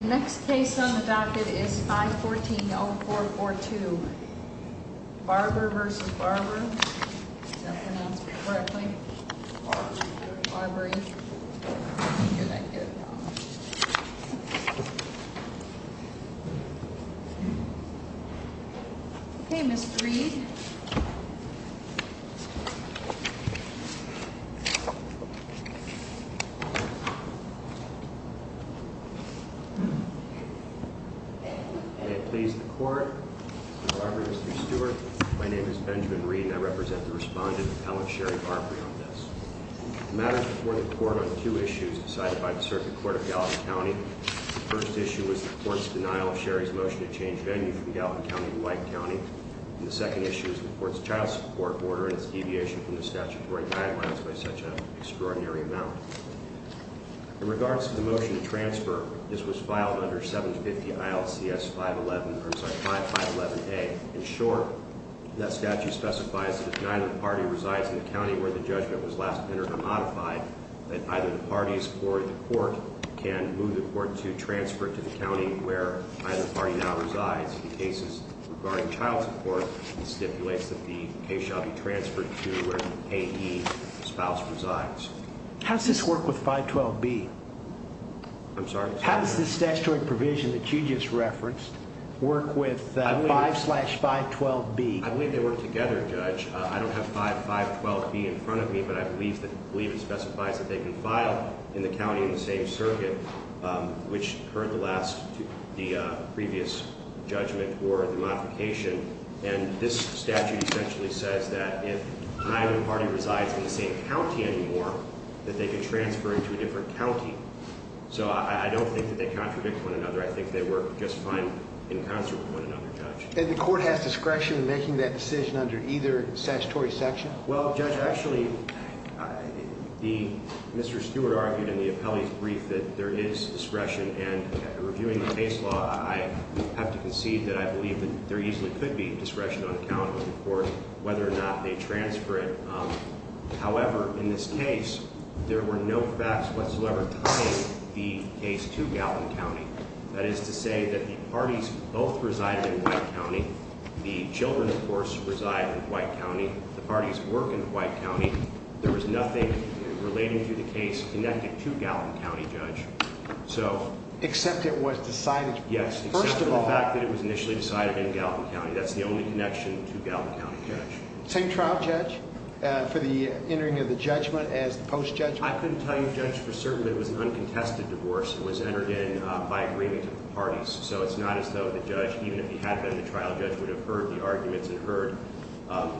The next case on the docket is 514-0442. Barbre v. Barbre. Is that pronounced correctly? Barbre. Barbre. I didn't hear that good. Okay, Ms. Breed. May it please the Court, Mr. Barbre, Mr. Stewart. My name is Benjamin Reed and I represent the respondent, Alan Sherry Barbre, on this. The matter is before the Court on two issues decided by the Circuit Court of Gallatin County. The first issue was the Court's denial of Sherry's motion to change venue from Gallatin County to White County. And the second issue is the Court's child support order and its deviation from the statutory guidelines by such an extraordinary amount. In regards to the motion to transfer, this was filed under 750-ILCS-511-A. In short, that statute specifies that if neither party resides in the county where the judgment was last entered or modified, that either the parties or the Court can move the Court to transfer to the county where either party now resides. In cases regarding child support, it stipulates that the case shall be transferred to where the payee spouse resides. How does this work with 512-B? I'm sorry? How does this statutory provision that you just referenced work with 5-512-B? I believe they work together, Judge. I don't have 5-512-B in front of me, but I believe it specifies that they can file in the county in the same circuit, which heard the previous judgment or the modification. And this statute essentially says that if neither party resides in the same county anymore, that they can transfer into a different county. So I don't think that they contradict one another. I think they work just fine in concert with one another, Judge. And the Court has discretion in making that decision under either statutory section? Well, Judge, actually, Mr. Stewart argued in the appellee's brief that there is discretion. And reviewing the case law, I have to concede that I believe that there easily could be discretion on account of the Court, whether or not they transfer it. However, in this case, there were no facts whatsoever tying the case to Gallatin County. That is to say that the parties both resided in White County. The children, of course, reside in White County. The parties work in White County. There was nothing relating to the case connected to Gallatin County, Judge. Except it was decided. Yes, except for the fact that it was initially decided in Gallatin County. That's the only connection to Gallatin County, Judge. Same trial, Judge, for the entering of the judgment as the post-judgment? I couldn't tell you, Judge, for certain that it was an uncontested divorce. It was entered in by agreement of the parties. So it's not as though the judge, even if he had been the trial judge, would have heard the arguments and heard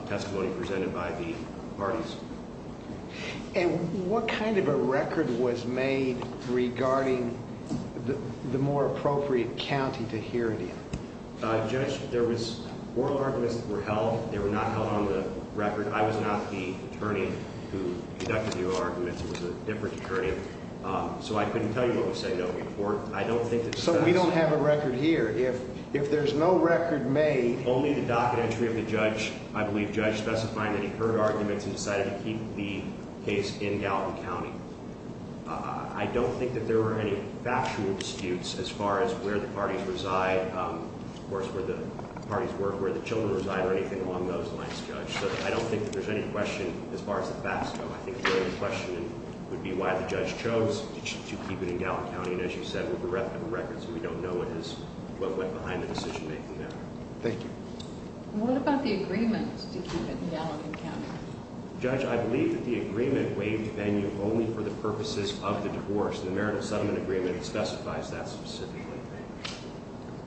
testimony presented by the parties. And what kind of a record was made regarding the more appropriate county to hear it in? Judge, oral arguments were held. They were not held on the record. I was not the attorney who conducted the oral arguments. It was a different attorney. So I couldn't tell you what was said, no, before. So we don't have a record here. If there's no record made. Only the docket entry of the judge. I believe the judge specified that he heard arguments and decided to keep the case in Gallatin County. I don't think that there were any factual disputes as far as where the parties reside. Of course, where the parties were, where the children reside, or anything along those lines, Judge. So I don't think that there's any question as far as the facts go. I think the only question would be why the judge chose to keep it in Gallatin County. And as you said, we have a record, so we don't know what went behind the decision making there. Thank you. What about the agreement to keep it in Gallatin County? Judge, I believe that the agreement waived venue only for the purposes of the divorce. The marital settlement agreement specifies that specifically.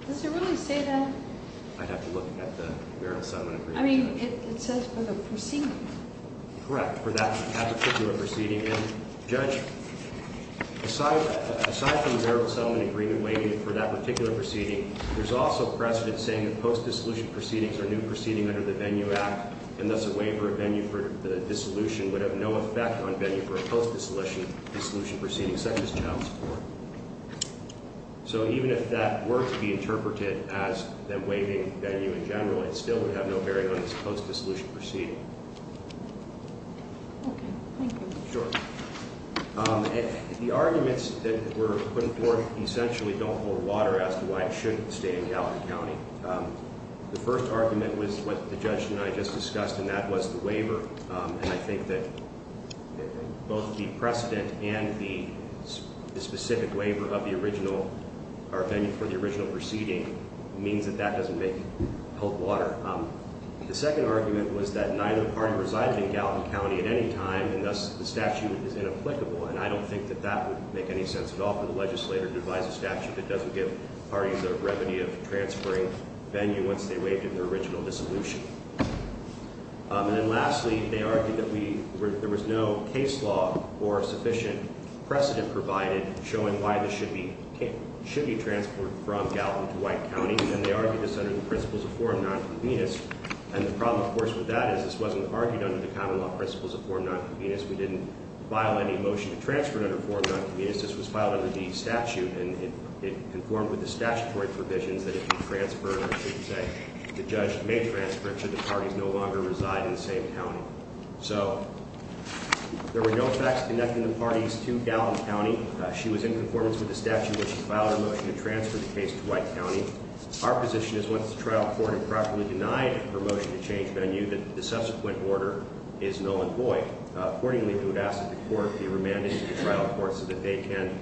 Does it really say that? I'd have to look at the marital settlement agreement. I mean, it says for the proceeding. Correct, for that particular proceeding. Judge, aside from the marital settlement agreement waiving for that particular proceeding, there's also precedent saying that post-dissolution proceedings are new proceedings under the Venue Act, and thus a waiver of venue for the dissolution would have no effect on venue for a post-dissolution proceeding, such as child support. So even if that were to be interpreted as the waiving venue in general, it still would have no bearing on this post-dissolution proceeding. Okay, thank you. Sure. The arguments that were put forth essentially don't hold water as to why it shouldn't stay in Gallatin County. The first argument was what the judge and I just discussed, and that was the waiver, and I think that both the precedent and the specific waiver of the original or venue for the original proceeding means that that doesn't help water. The second argument was that neither party resides in Gallatin County at any time, and thus the statute is inapplicable, and I don't think that that would make any sense at all for the legislator to advise a statute that doesn't give parties a remedy of transferring venue once they waived in their original dissolution. And then lastly, they argued that there was no case law or sufficient precedent provided showing why this should be transported from Gallatin to White County, and they argued this under the principles of forum non-convenus, and the problem, of course, with that is this wasn't argued under the common law principles of forum non-convenus. We didn't file any motion to transfer it under forum non-convenus. This was filed under the statute, and it conformed with the statutory provisions that if you transfer or should say the judge may transfer it should the parties no longer reside in the same county. So there were no facts connecting the parties to Gallatin County. She was in conformance with the statute when she filed her motion to transfer the case to White County. Our position is once the trial court improperly denied her motion to change venue that the subsequent order is null and void. Accordingly, we would ask that the court be remanded to the trial court so that they can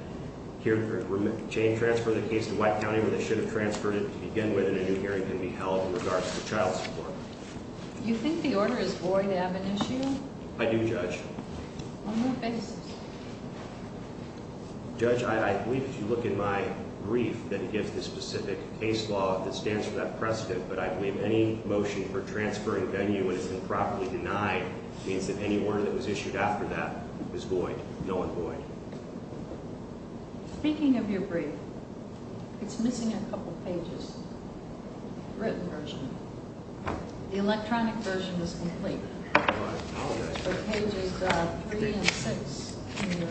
transfer the case to White County where they should have transferred it to begin with, and a new hearing can be held in regards to child support. Do you think the order is void of an issue? I do, Judge. On what basis? Judge, I believe if you look in my brief that it gives the specific case law that stands for that precedent, but I believe any motion for transferring venue when it's improperly denied means that any order that was issued after that is void, null and void. Speaking of your brief, it's missing a couple pages, the written version. The electronic version was complete. Well, I apologize for that. For pages three and six in your-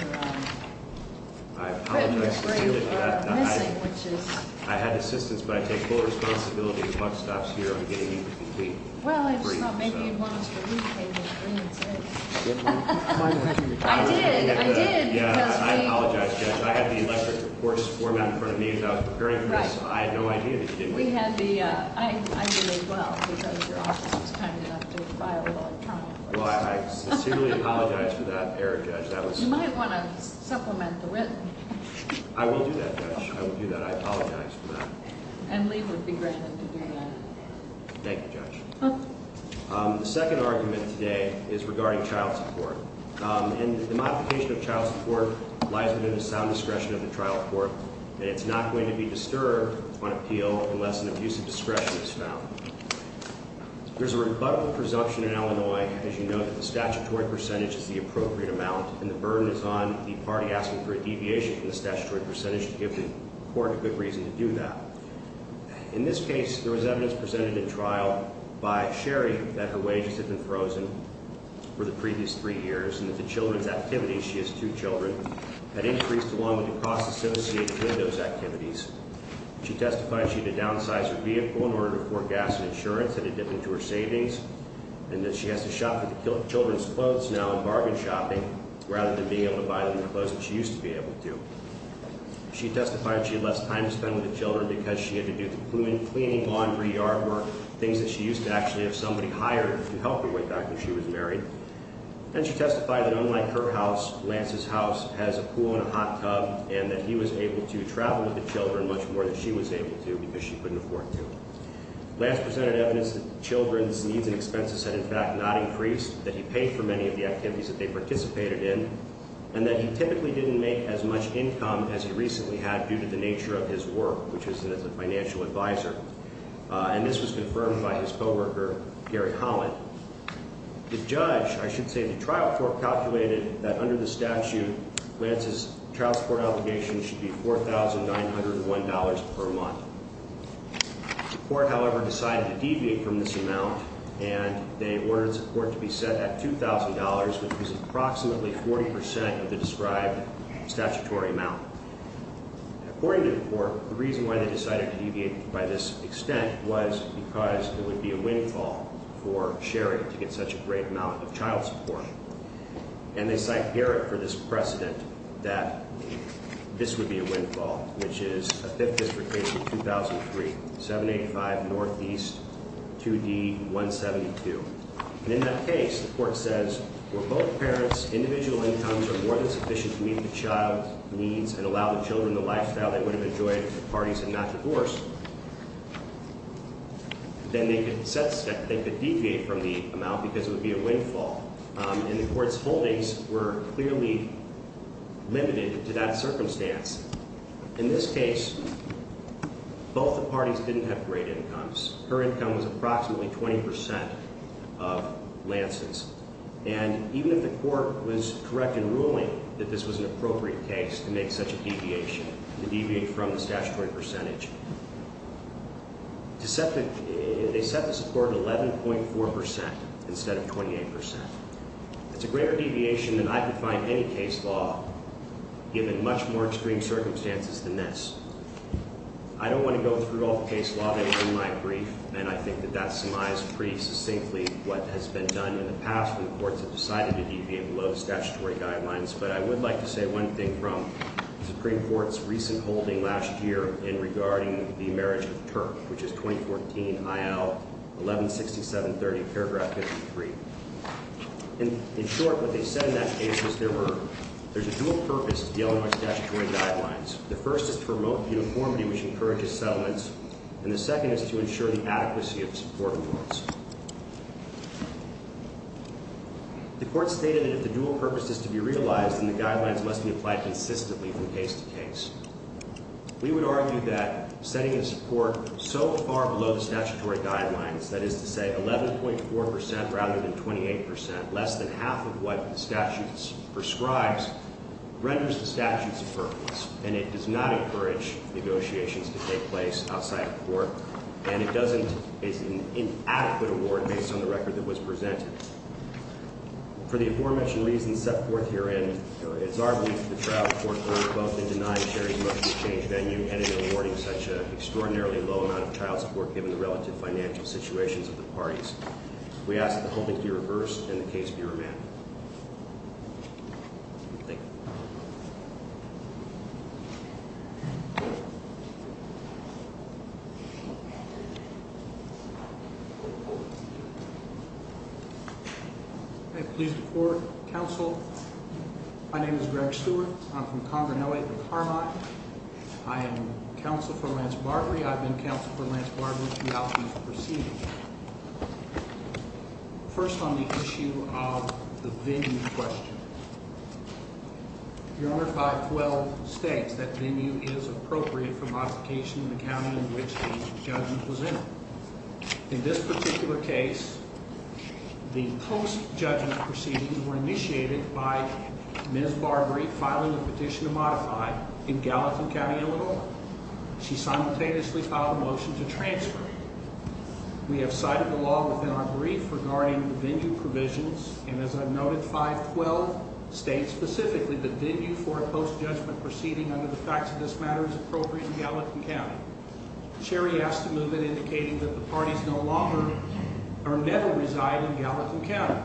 I apologize for that. Missing, which is- I had assistance, but I take full responsibility if the clock stops here on getting you the complete brief. Well, I just thought maybe you'd want us to read pages three and six. I did, I did, because we- Yeah, I apologize, Judge. I had the electric reports form out in front of me as I was preparing for this. I had no idea that you didn't. We had the- I did as well, because your office was kind enough to file the electronic reports. Well, I sincerely apologize for that error, Judge. That was- You might want to supplement the written. I will do that, Judge. I will do that. I apologize for that. And leave would be granted to do that. Thank you, Judge. The second argument today is regarding child support. And the modification of child support lies within the sound discretion of the trial court, and it's not going to be disturbed on appeal unless an abusive discretion is found. There's a rebuttable presumption in Illinois, as you know, that the statutory percentage is the appropriate amount, and the burden is on the party asking for a deviation from the statutory percentage to give the court a good reason to do that. In this case, there was evidence presented at trial by Sherry that her wages had been frozen for the previous three years and that the children's activities, she has two children, had increased along with the cost associated with those activities. She testified she had to downsize her vehicle in order to afford gas and insurance that had dipped into her savings, and that she has to shop for the children's clothes now and bargain shopping rather than being able to buy them in clothes that she used to be able to. She testified she had less time to spend with the children because she had to do the cleaning, laundry, yard work, things that she used to actually have somebody hire to help her with back when she was married. And she testified that unlike her house, Lance's house has a pool and a hot tub, and that he was able to travel with the children much more than she was able to because she couldn't afford to. Lance presented evidence that the children's needs and expenses had, in fact, not increased, that he paid for many of the activities that they participated in, and that he typically didn't make as much income as he recently had due to the nature of his work, which was as a financial advisor. And this was confirmed by his co-worker, Gary Holland. The judge, I should say the trial court, calculated that under the statute, Lance's child support obligation should be $4,901 per month. The court, however, decided to deviate from this amount, and they ordered the court to be set at $2,000, which was approximately 40 percent of the described statutory amount. According to the court, the reason why they decided to deviate by this extent was because it would be a windfall for Sherry to get such a great amount of child support. And they cite Garrett for this precedent that this would be a windfall, which is a Fifth District case from 2003, 785 Northeast, 2D 172. And in that case, the court says, were both parents' individual incomes are more than sufficient to meet the child's needs and allow the children the lifestyle they would have enjoyed if the parties had not divorced, then they could deviate from the amount because it would be a windfall. And the court's holdings were clearly limited to that circumstance. In this case, both the parties didn't have great incomes. Her income was approximately 20 percent of Lance's. And even if the court was correct in ruling that this was an appropriate case to make such a deviation, to deviate from the statutory percentage, they set the support at 11.4 percent instead of 28 percent. It's a greater deviation than I could find in any case law, given much more extreme circumstances than this. I don't want to go through all the case law. They were in my brief, and I think that that surmised pretty succinctly what has been done in the past when the courts have decided to deviate below the statutory guidelines. But I would like to say one thing from the Supreme Court's recent holding last year in regarding the marriage of Turk, which is 2014, I.L. 116730, paragraph 53. In short, what they said in that case is there's a dual purpose to dealing with statutory guidelines. The first is to promote uniformity, which encourages settlements, and the second is to ensure the adequacy of support awards. The court stated that if the dual purpose is to be realized, then the guidelines must be applied consistently from case to case. We would argue that setting a support so far below the statutory guidelines, that is to say 11.4 percent rather than 28 percent, less than half of what the statute prescribes, renders the statute superfluous, and it does not encourage negotiations to take place outside of court. And it doesn't, it's an inadequate award based on the record that was presented. For the aforementioned reasons set forth herein, it's our belief that the trial court earned both in denying Sherry's motion to change venue and in awarding such an extraordinarily low amount of trial support given the relative financial situations of the parties. We ask that the whole thing be reversed and the case be remanded. Thank you. I'm pleased to report, counsel, my name is Greg Stewart. I'm from Conger, LA at the Carmine. I am counsel for Lance Barbary. I've been counsel for Lance Barbary throughout these proceedings. First on the issue of the venue question. Your Honor, 512 states that venue is appropriate for modification in the county in which the judgment was entered. In this particular case, the post-judgment proceedings were initiated by Ms. Barbary filing a petition to modify in Gallatin County, Illinois. She simultaneously filed a motion to transfer. We have cited the law within our brief regarding the venue provisions. And as I've noted, 512 states specifically that venue for a post-judgment proceeding under the facts of this matter is appropriate in Gallatin County. Sherry asked to move it indicating that the parties no longer or never reside in Gallatin County.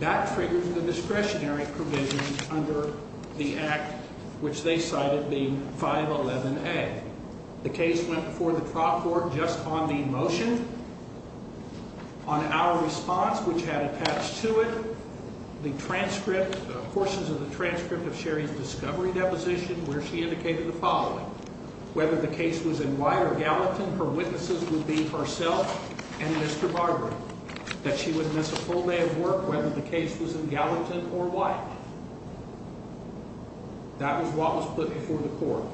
That triggers the discretionary provisions under the act which they cited being 511A. The case went before the trial court just on the motion, on our response which had attached to it the transcript, portions of the transcript of Sherry's discovery deposition where she indicated the following. Whether the case was in Wye or Gallatin, her witnesses would be herself and Mr. Barbary. That she would miss a full day of work whether the case was in Gallatin or Wye. That was what was put before the court.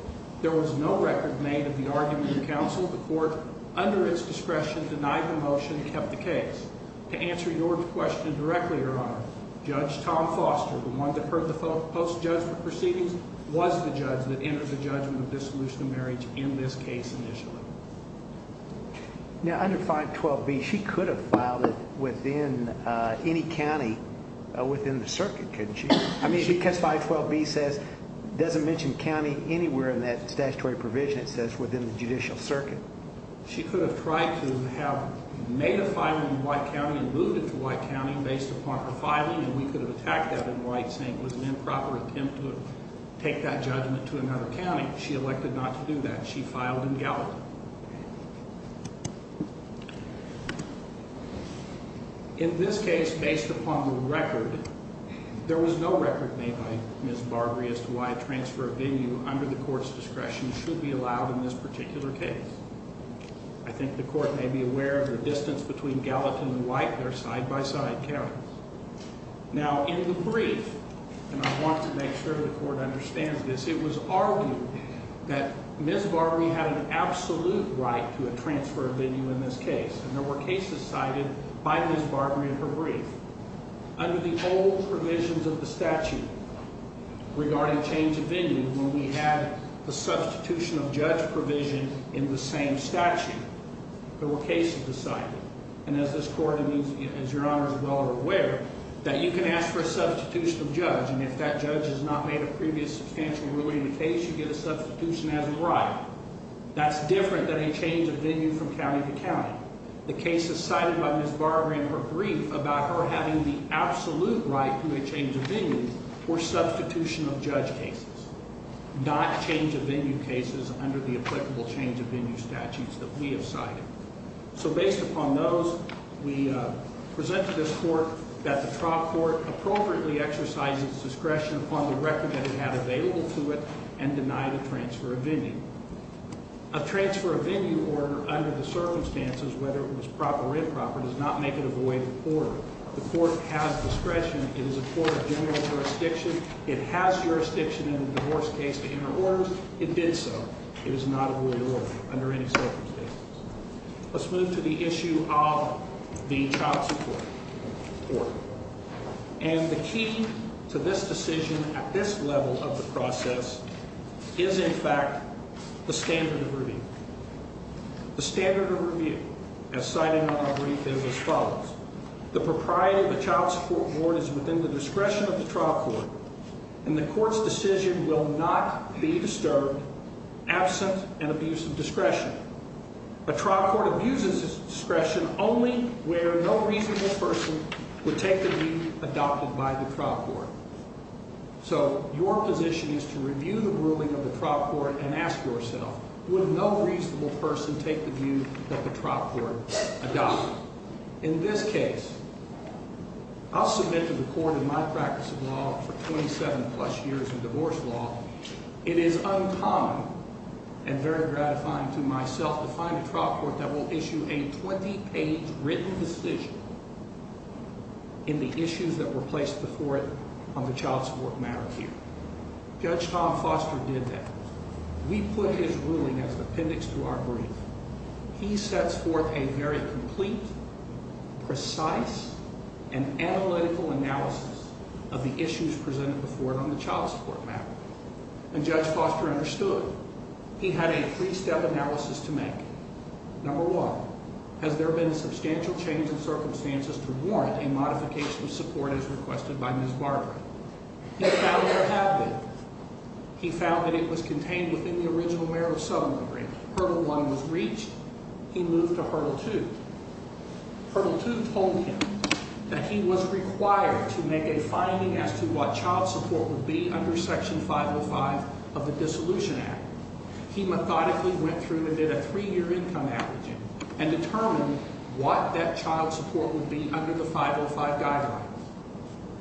There was no record made of the argument of counsel. The court, under its discretion, denied the motion and kept the case. To answer your question directly, Your Honor, Judge Tom Foster, the one that heard the post-judgment proceedings, was the judge that entered the judgment of dissolution of marriage in this case initially. Now under 512B, she could have filed it within any county within the circuit, couldn't she? I mean, because 512B doesn't mention county anywhere in that statutory provision. It says within the judicial circuit. She could have tried to have made a filing in Wye County and moved it to Wye County based upon her filing and we could have attacked that in Wye saying it was an improper attempt to take that judgment to another county. She elected not to do that. She filed in Gallatin. In this case, based upon the record, there was no record made by Ms. Barbary as to why a transfer of venue under the court's discretion should be allowed in this particular case. I think the court may be aware of the distance between Gallatin and Wye. They're side-by-side counties. Now in the brief, and I want to make sure the court understands this, it was argued that Ms. Barbary had an absolute right to a transfer of venue in this case, and there were cases cited by Ms. Barbary in her brief. Under the old provisions of the statute regarding change of venue, when we had a substitution of judge provision in the same statute, there were cases decided. And as this court, as Your Honor is well aware, that you can ask for a substitution of judge, and if that judge has not made a previous substantial ruling in the case, you get a substitution as a right. That's different than a change of venue from county to county. The cases cited by Ms. Barbary in her brief about her having the absolute right to a change of venue were substitution of judge cases, not change of venue cases under the applicable change of venue statutes that we have cited. So based upon those, we present to this court that the trial court appropriately exercised its discretion upon the record that it had available to it and denied a transfer of venue. A transfer of venue order under the circumstances, whether it was proper or improper, does not make it a void of order. The court has discretion. It is a court of general jurisdiction. It has jurisdiction in a divorce case to enter orders. It did so. It is not a void of order under any circumstances. Let's move to the issue of the child support court. And the key to this decision at this level of the process is, in fact, the standard of review. The standard of review, as cited in our brief, is as follows. The propriety of the child support board is within the discretion of the trial court, and the court's decision will not be disturbed absent an abuse of discretion. A trial court abuses discretion only where no reasonable person would take the view adopted by the trial court. So your position is to review the ruling of the trial court and ask yourself, would no reasonable person take the view that the trial court adopted? In this case, I'll submit to the court in my practice of law for 27-plus years in divorce law. It is uncommon and very gratifying to myself to find a trial court that will issue a 20-page written decision in the issues that were placed before it on the child support matter here. Judge Tom Foster did that. We put his ruling as the appendix to our brief. He sets forth a very complete, precise, and analytical analysis of the issues presented before it on the child support matter. And Judge Foster understood. He had a three-step analysis to make. Number one, has there been substantial change in circumstances to warrant a modification of support as requested by Ms. Barbara? He found there have been. He found that it was contained within the original merit of settlement agreement. Hurdle one was reached. He moved to hurdle two. Hurdle two told him that he was required to make a finding as to what child support would be under Section 505 of the Dissolution Act. He methodically went through and did a three-year income averaging and determined what that child support would be under the 505 guidelines.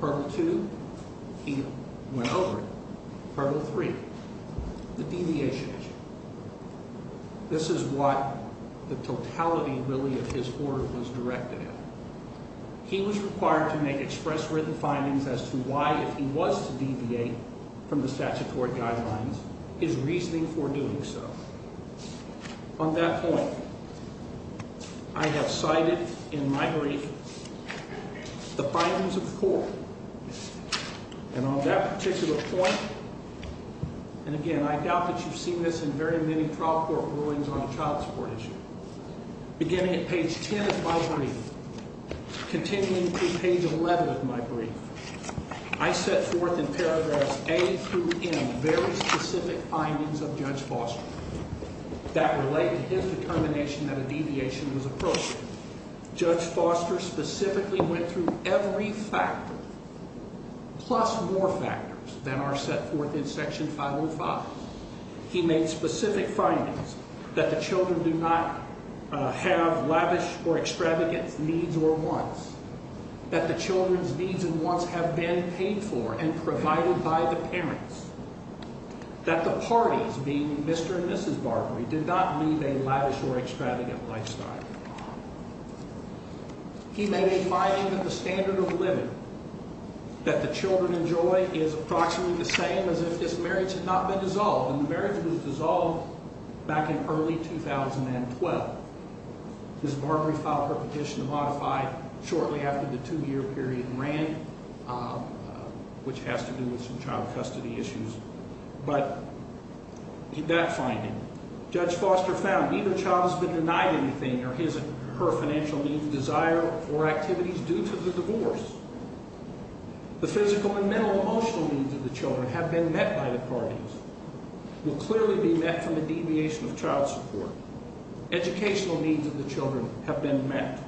Hurdle two, he went over it. The deviation issue. This is what the totality, really, of his order was directed at. He was required to make express written findings as to why, if he was to deviate from the statutory guidelines, his reasoning for doing so. On that point, I have cited in my brief the findings of court. And on that particular point, and, again, I doubt that you've seen this in very many trial court rulings on a child support issue. Beginning at page 10 of my brief, continuing through page 11 of my brief, I set forth in paragraphs A through N very specific findings of Judge Foster that relate to his determination that a deviation was appropriate. Judge Foster specifically went through every factor plus more factors than are set forth in Section 505. He made specific findings that the children do not have lavish or extravagant needs or wants, that the children's needs and wants have been paid for and provided by the parents, that the parties, being Mr. and Mrs. Barbary, did not lead a lavish or extravagant lifestyle. He made a finding that the standard of living that the children enjoy is approximately the same as if this marriage had not been dissolved, and the marriage was dissolved back in early 2012. Mr. Barbary filed for petition to modify shortly after the two-year period ran, which has to do with some child custody issues. But that finding, Judge Foster found neither child has been denied anything or his or her financial needs, desire, or activities due to the divorce. The physical and mental and emotional needs of the children have been met by the parties, will clearly be met from a deviation of child support. Educational needs of the children have been met.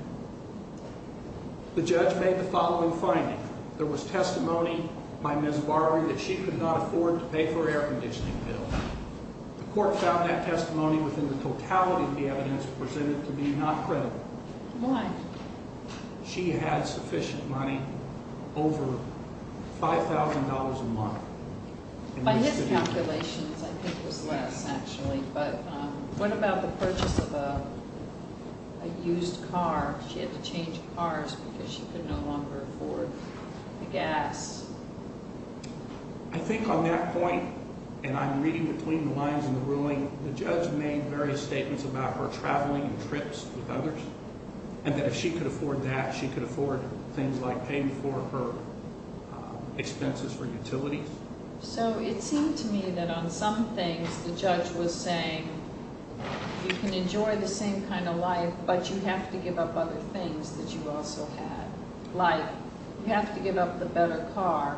The judge made the following finding. There was testimony by Ms. Barbary that she could not afford to pay for her air conditioning bill. The court found that testimony within the totality of the evidence presented to be not credible. Why? She had sufficient money, over $5,000 a month. By his calculations, I think it was less, actually. But what about the purchase of a used car? She had to change cars because she could no longer afford the gas. I think on that point, and I'm reading between the lines in the ruling, the judge made various statements about her traveling and trips with others, and that if she could afford that, she could afford things like paying for her expenses for utilities. So, it seemed to me that on some things, the judge was saying, you can enjoy the same kind of life, but you have to give up other things that you also had. Like, you have to give up the better car,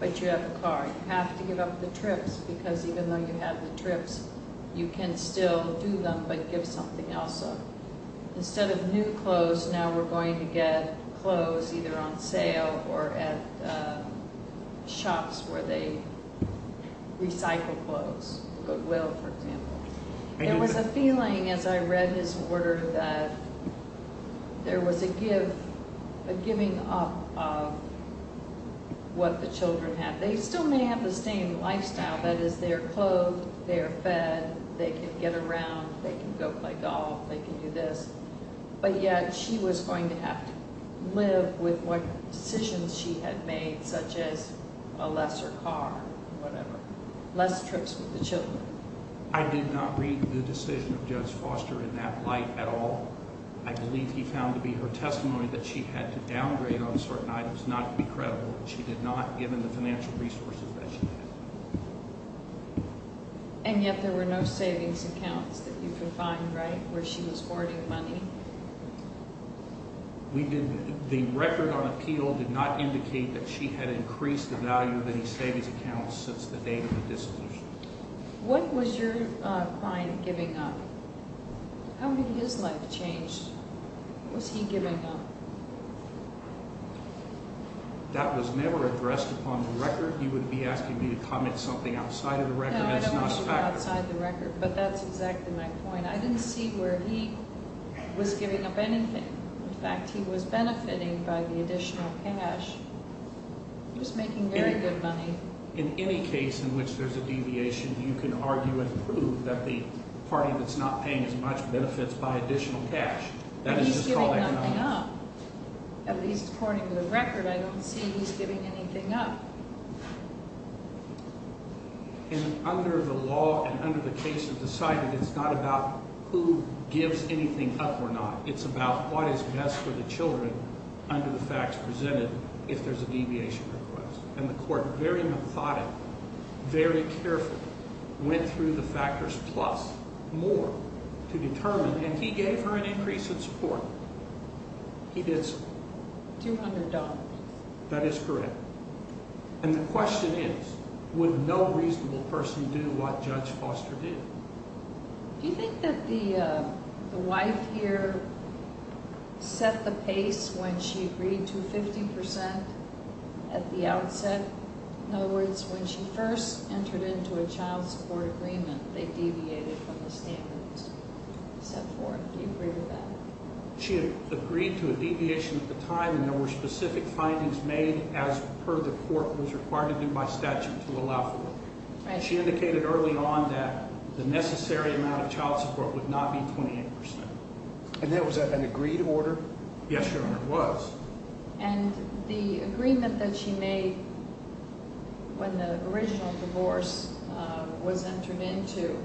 but you have a car. You have to give up the trips, because even though you have the trips, you can still do them, but give something else up. Instead of new clothes, now we're going to get clothes either on sale or at shops where they recycle clothes. Goodwill, for example. There was a feeling, as I read his order, that there was a giving up of what the children had. They still may have the same lifestyle. That is, they're clothed, they're fed, they can get around, they can go play golf, they can do this. But yet, she was going to have to live with what decisions she had made, such as a lesser car, whatever. Less trips with the children. I did not read the decision of Judge Foster in that light at all. I believe he found to be her testimony that she had to downgrade on certain items not to be credible. She did not, given the financial resources that she had. And yet there were no savings accounts that you could find, right, where she was hoarding money? The record on appeal did not indicate that she had increased the value of any savings accounts since the date of the dissolution. What was your client giving up? How did his life change? What was he giving up? That was never addressed upon the record. You would be asking me to comment something outside of the record. No, I don't want to go outside the record, but that's exactly my point. I didn't see where he was giving up anything. In fact, he was benefiting by the additional cash. He was making very good money. In any case in which there's a deviation, you can argue and prove that the party that's not paying as much benefits by additional cash. He's giving nothing up. At least according to the record, I don't see he's giving anything up. And under the law and under the case of decided, it's not about who gives anything up or not. It's about what is best for the children under the facts presented if there's a deviation request. And the court very methodically, very carefully went through the factors plus more to determine, and he gave her an increase in support. He did so. $200. That is correct. And the question is, would no reasonable person do what Judge Foster did? Do you think that the wife here set the pace when she agreed to 50% at the outset? In other words, when she first entered into a child support agreement, they deviated from the standards set forth. Do you agree with that? She had agreed to a deviation at the time, and there were specific findings made as per the court was required to do by statute to allow for it. She indicated early on that the necessary amount of child support would not be 28%. And that was an agreed order? Yes, Your Honor, it was. And the agreement that she made when the original divorce was entered into,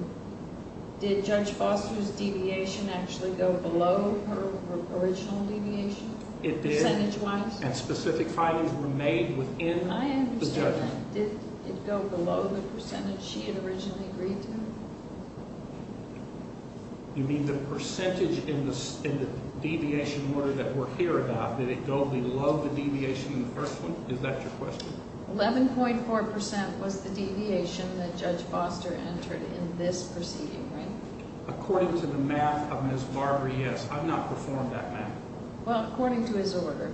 did Judge Foster's deviation actually go below her original deviation? It did. Percentage-wise? And specific findings were made within the judgment. Did it go below the percentage she had originally agreed to? You mean the percentage in the deviation order that we're here about, did it go below the deviation in the first one? Is that your question? 11.4% was the deviation that Judge Foster entered in this proceeding, right? According to the math of Ms. Barbarie, yes. I've not performed that math. Well, according to his order,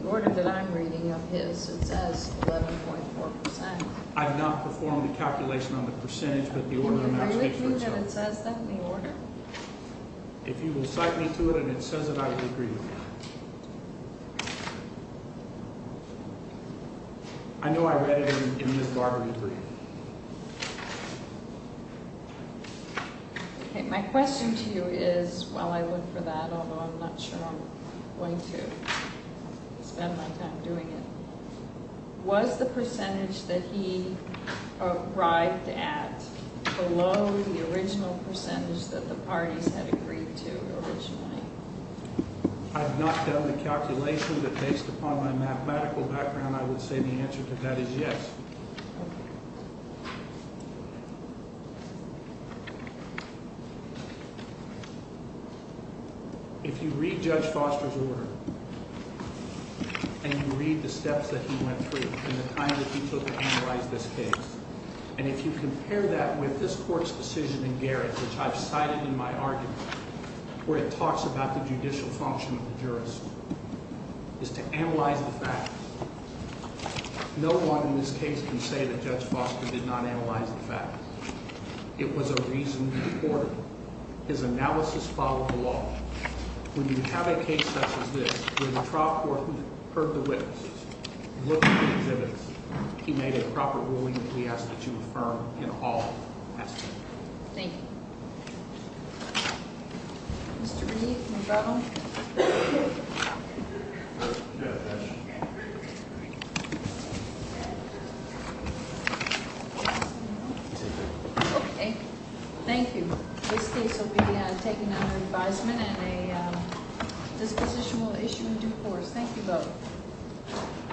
the order that I'm reading of his, it says 11.4%. I've not performed the calculation on the percentage, but the order in the math textbook says so. Do you agree with me that it says that in the order? If you will cite me to it and it says it, I will agree with you. I know I read it in Ms. Barbarie's brief. Okay, my question to you is, while I look for that, although I'm not sure I'm going to spend my time doing it, was the percentage that he arrived at below the original percentage that the parties had agreed to originally? I've not done the calculation, but based upon my mathematical background, I would say the answer to that is yes. Okay. If you read Judge Foster's order and you read the steps that he went through in the time that he took to analyze this case, and if you compare that with this court's decision in Garrett, which I've cited in my argument, where it talks about the judicial function of the jurist, is to analyze the fact No one in this case can say that Judge Foster did not analyze the fact. It was a reasoned order. His analysis followed the law. When you have a case such as this, where the trial court heard the witnesses, looked at the exhibits, he made a proper ruling that he asked that you affirm in all aspects. Thank you. Mr. Reed, you have a problem? No. Okay. Thank you. This case will be taken under advisement, and a disposition will issue in due course. Thank you both.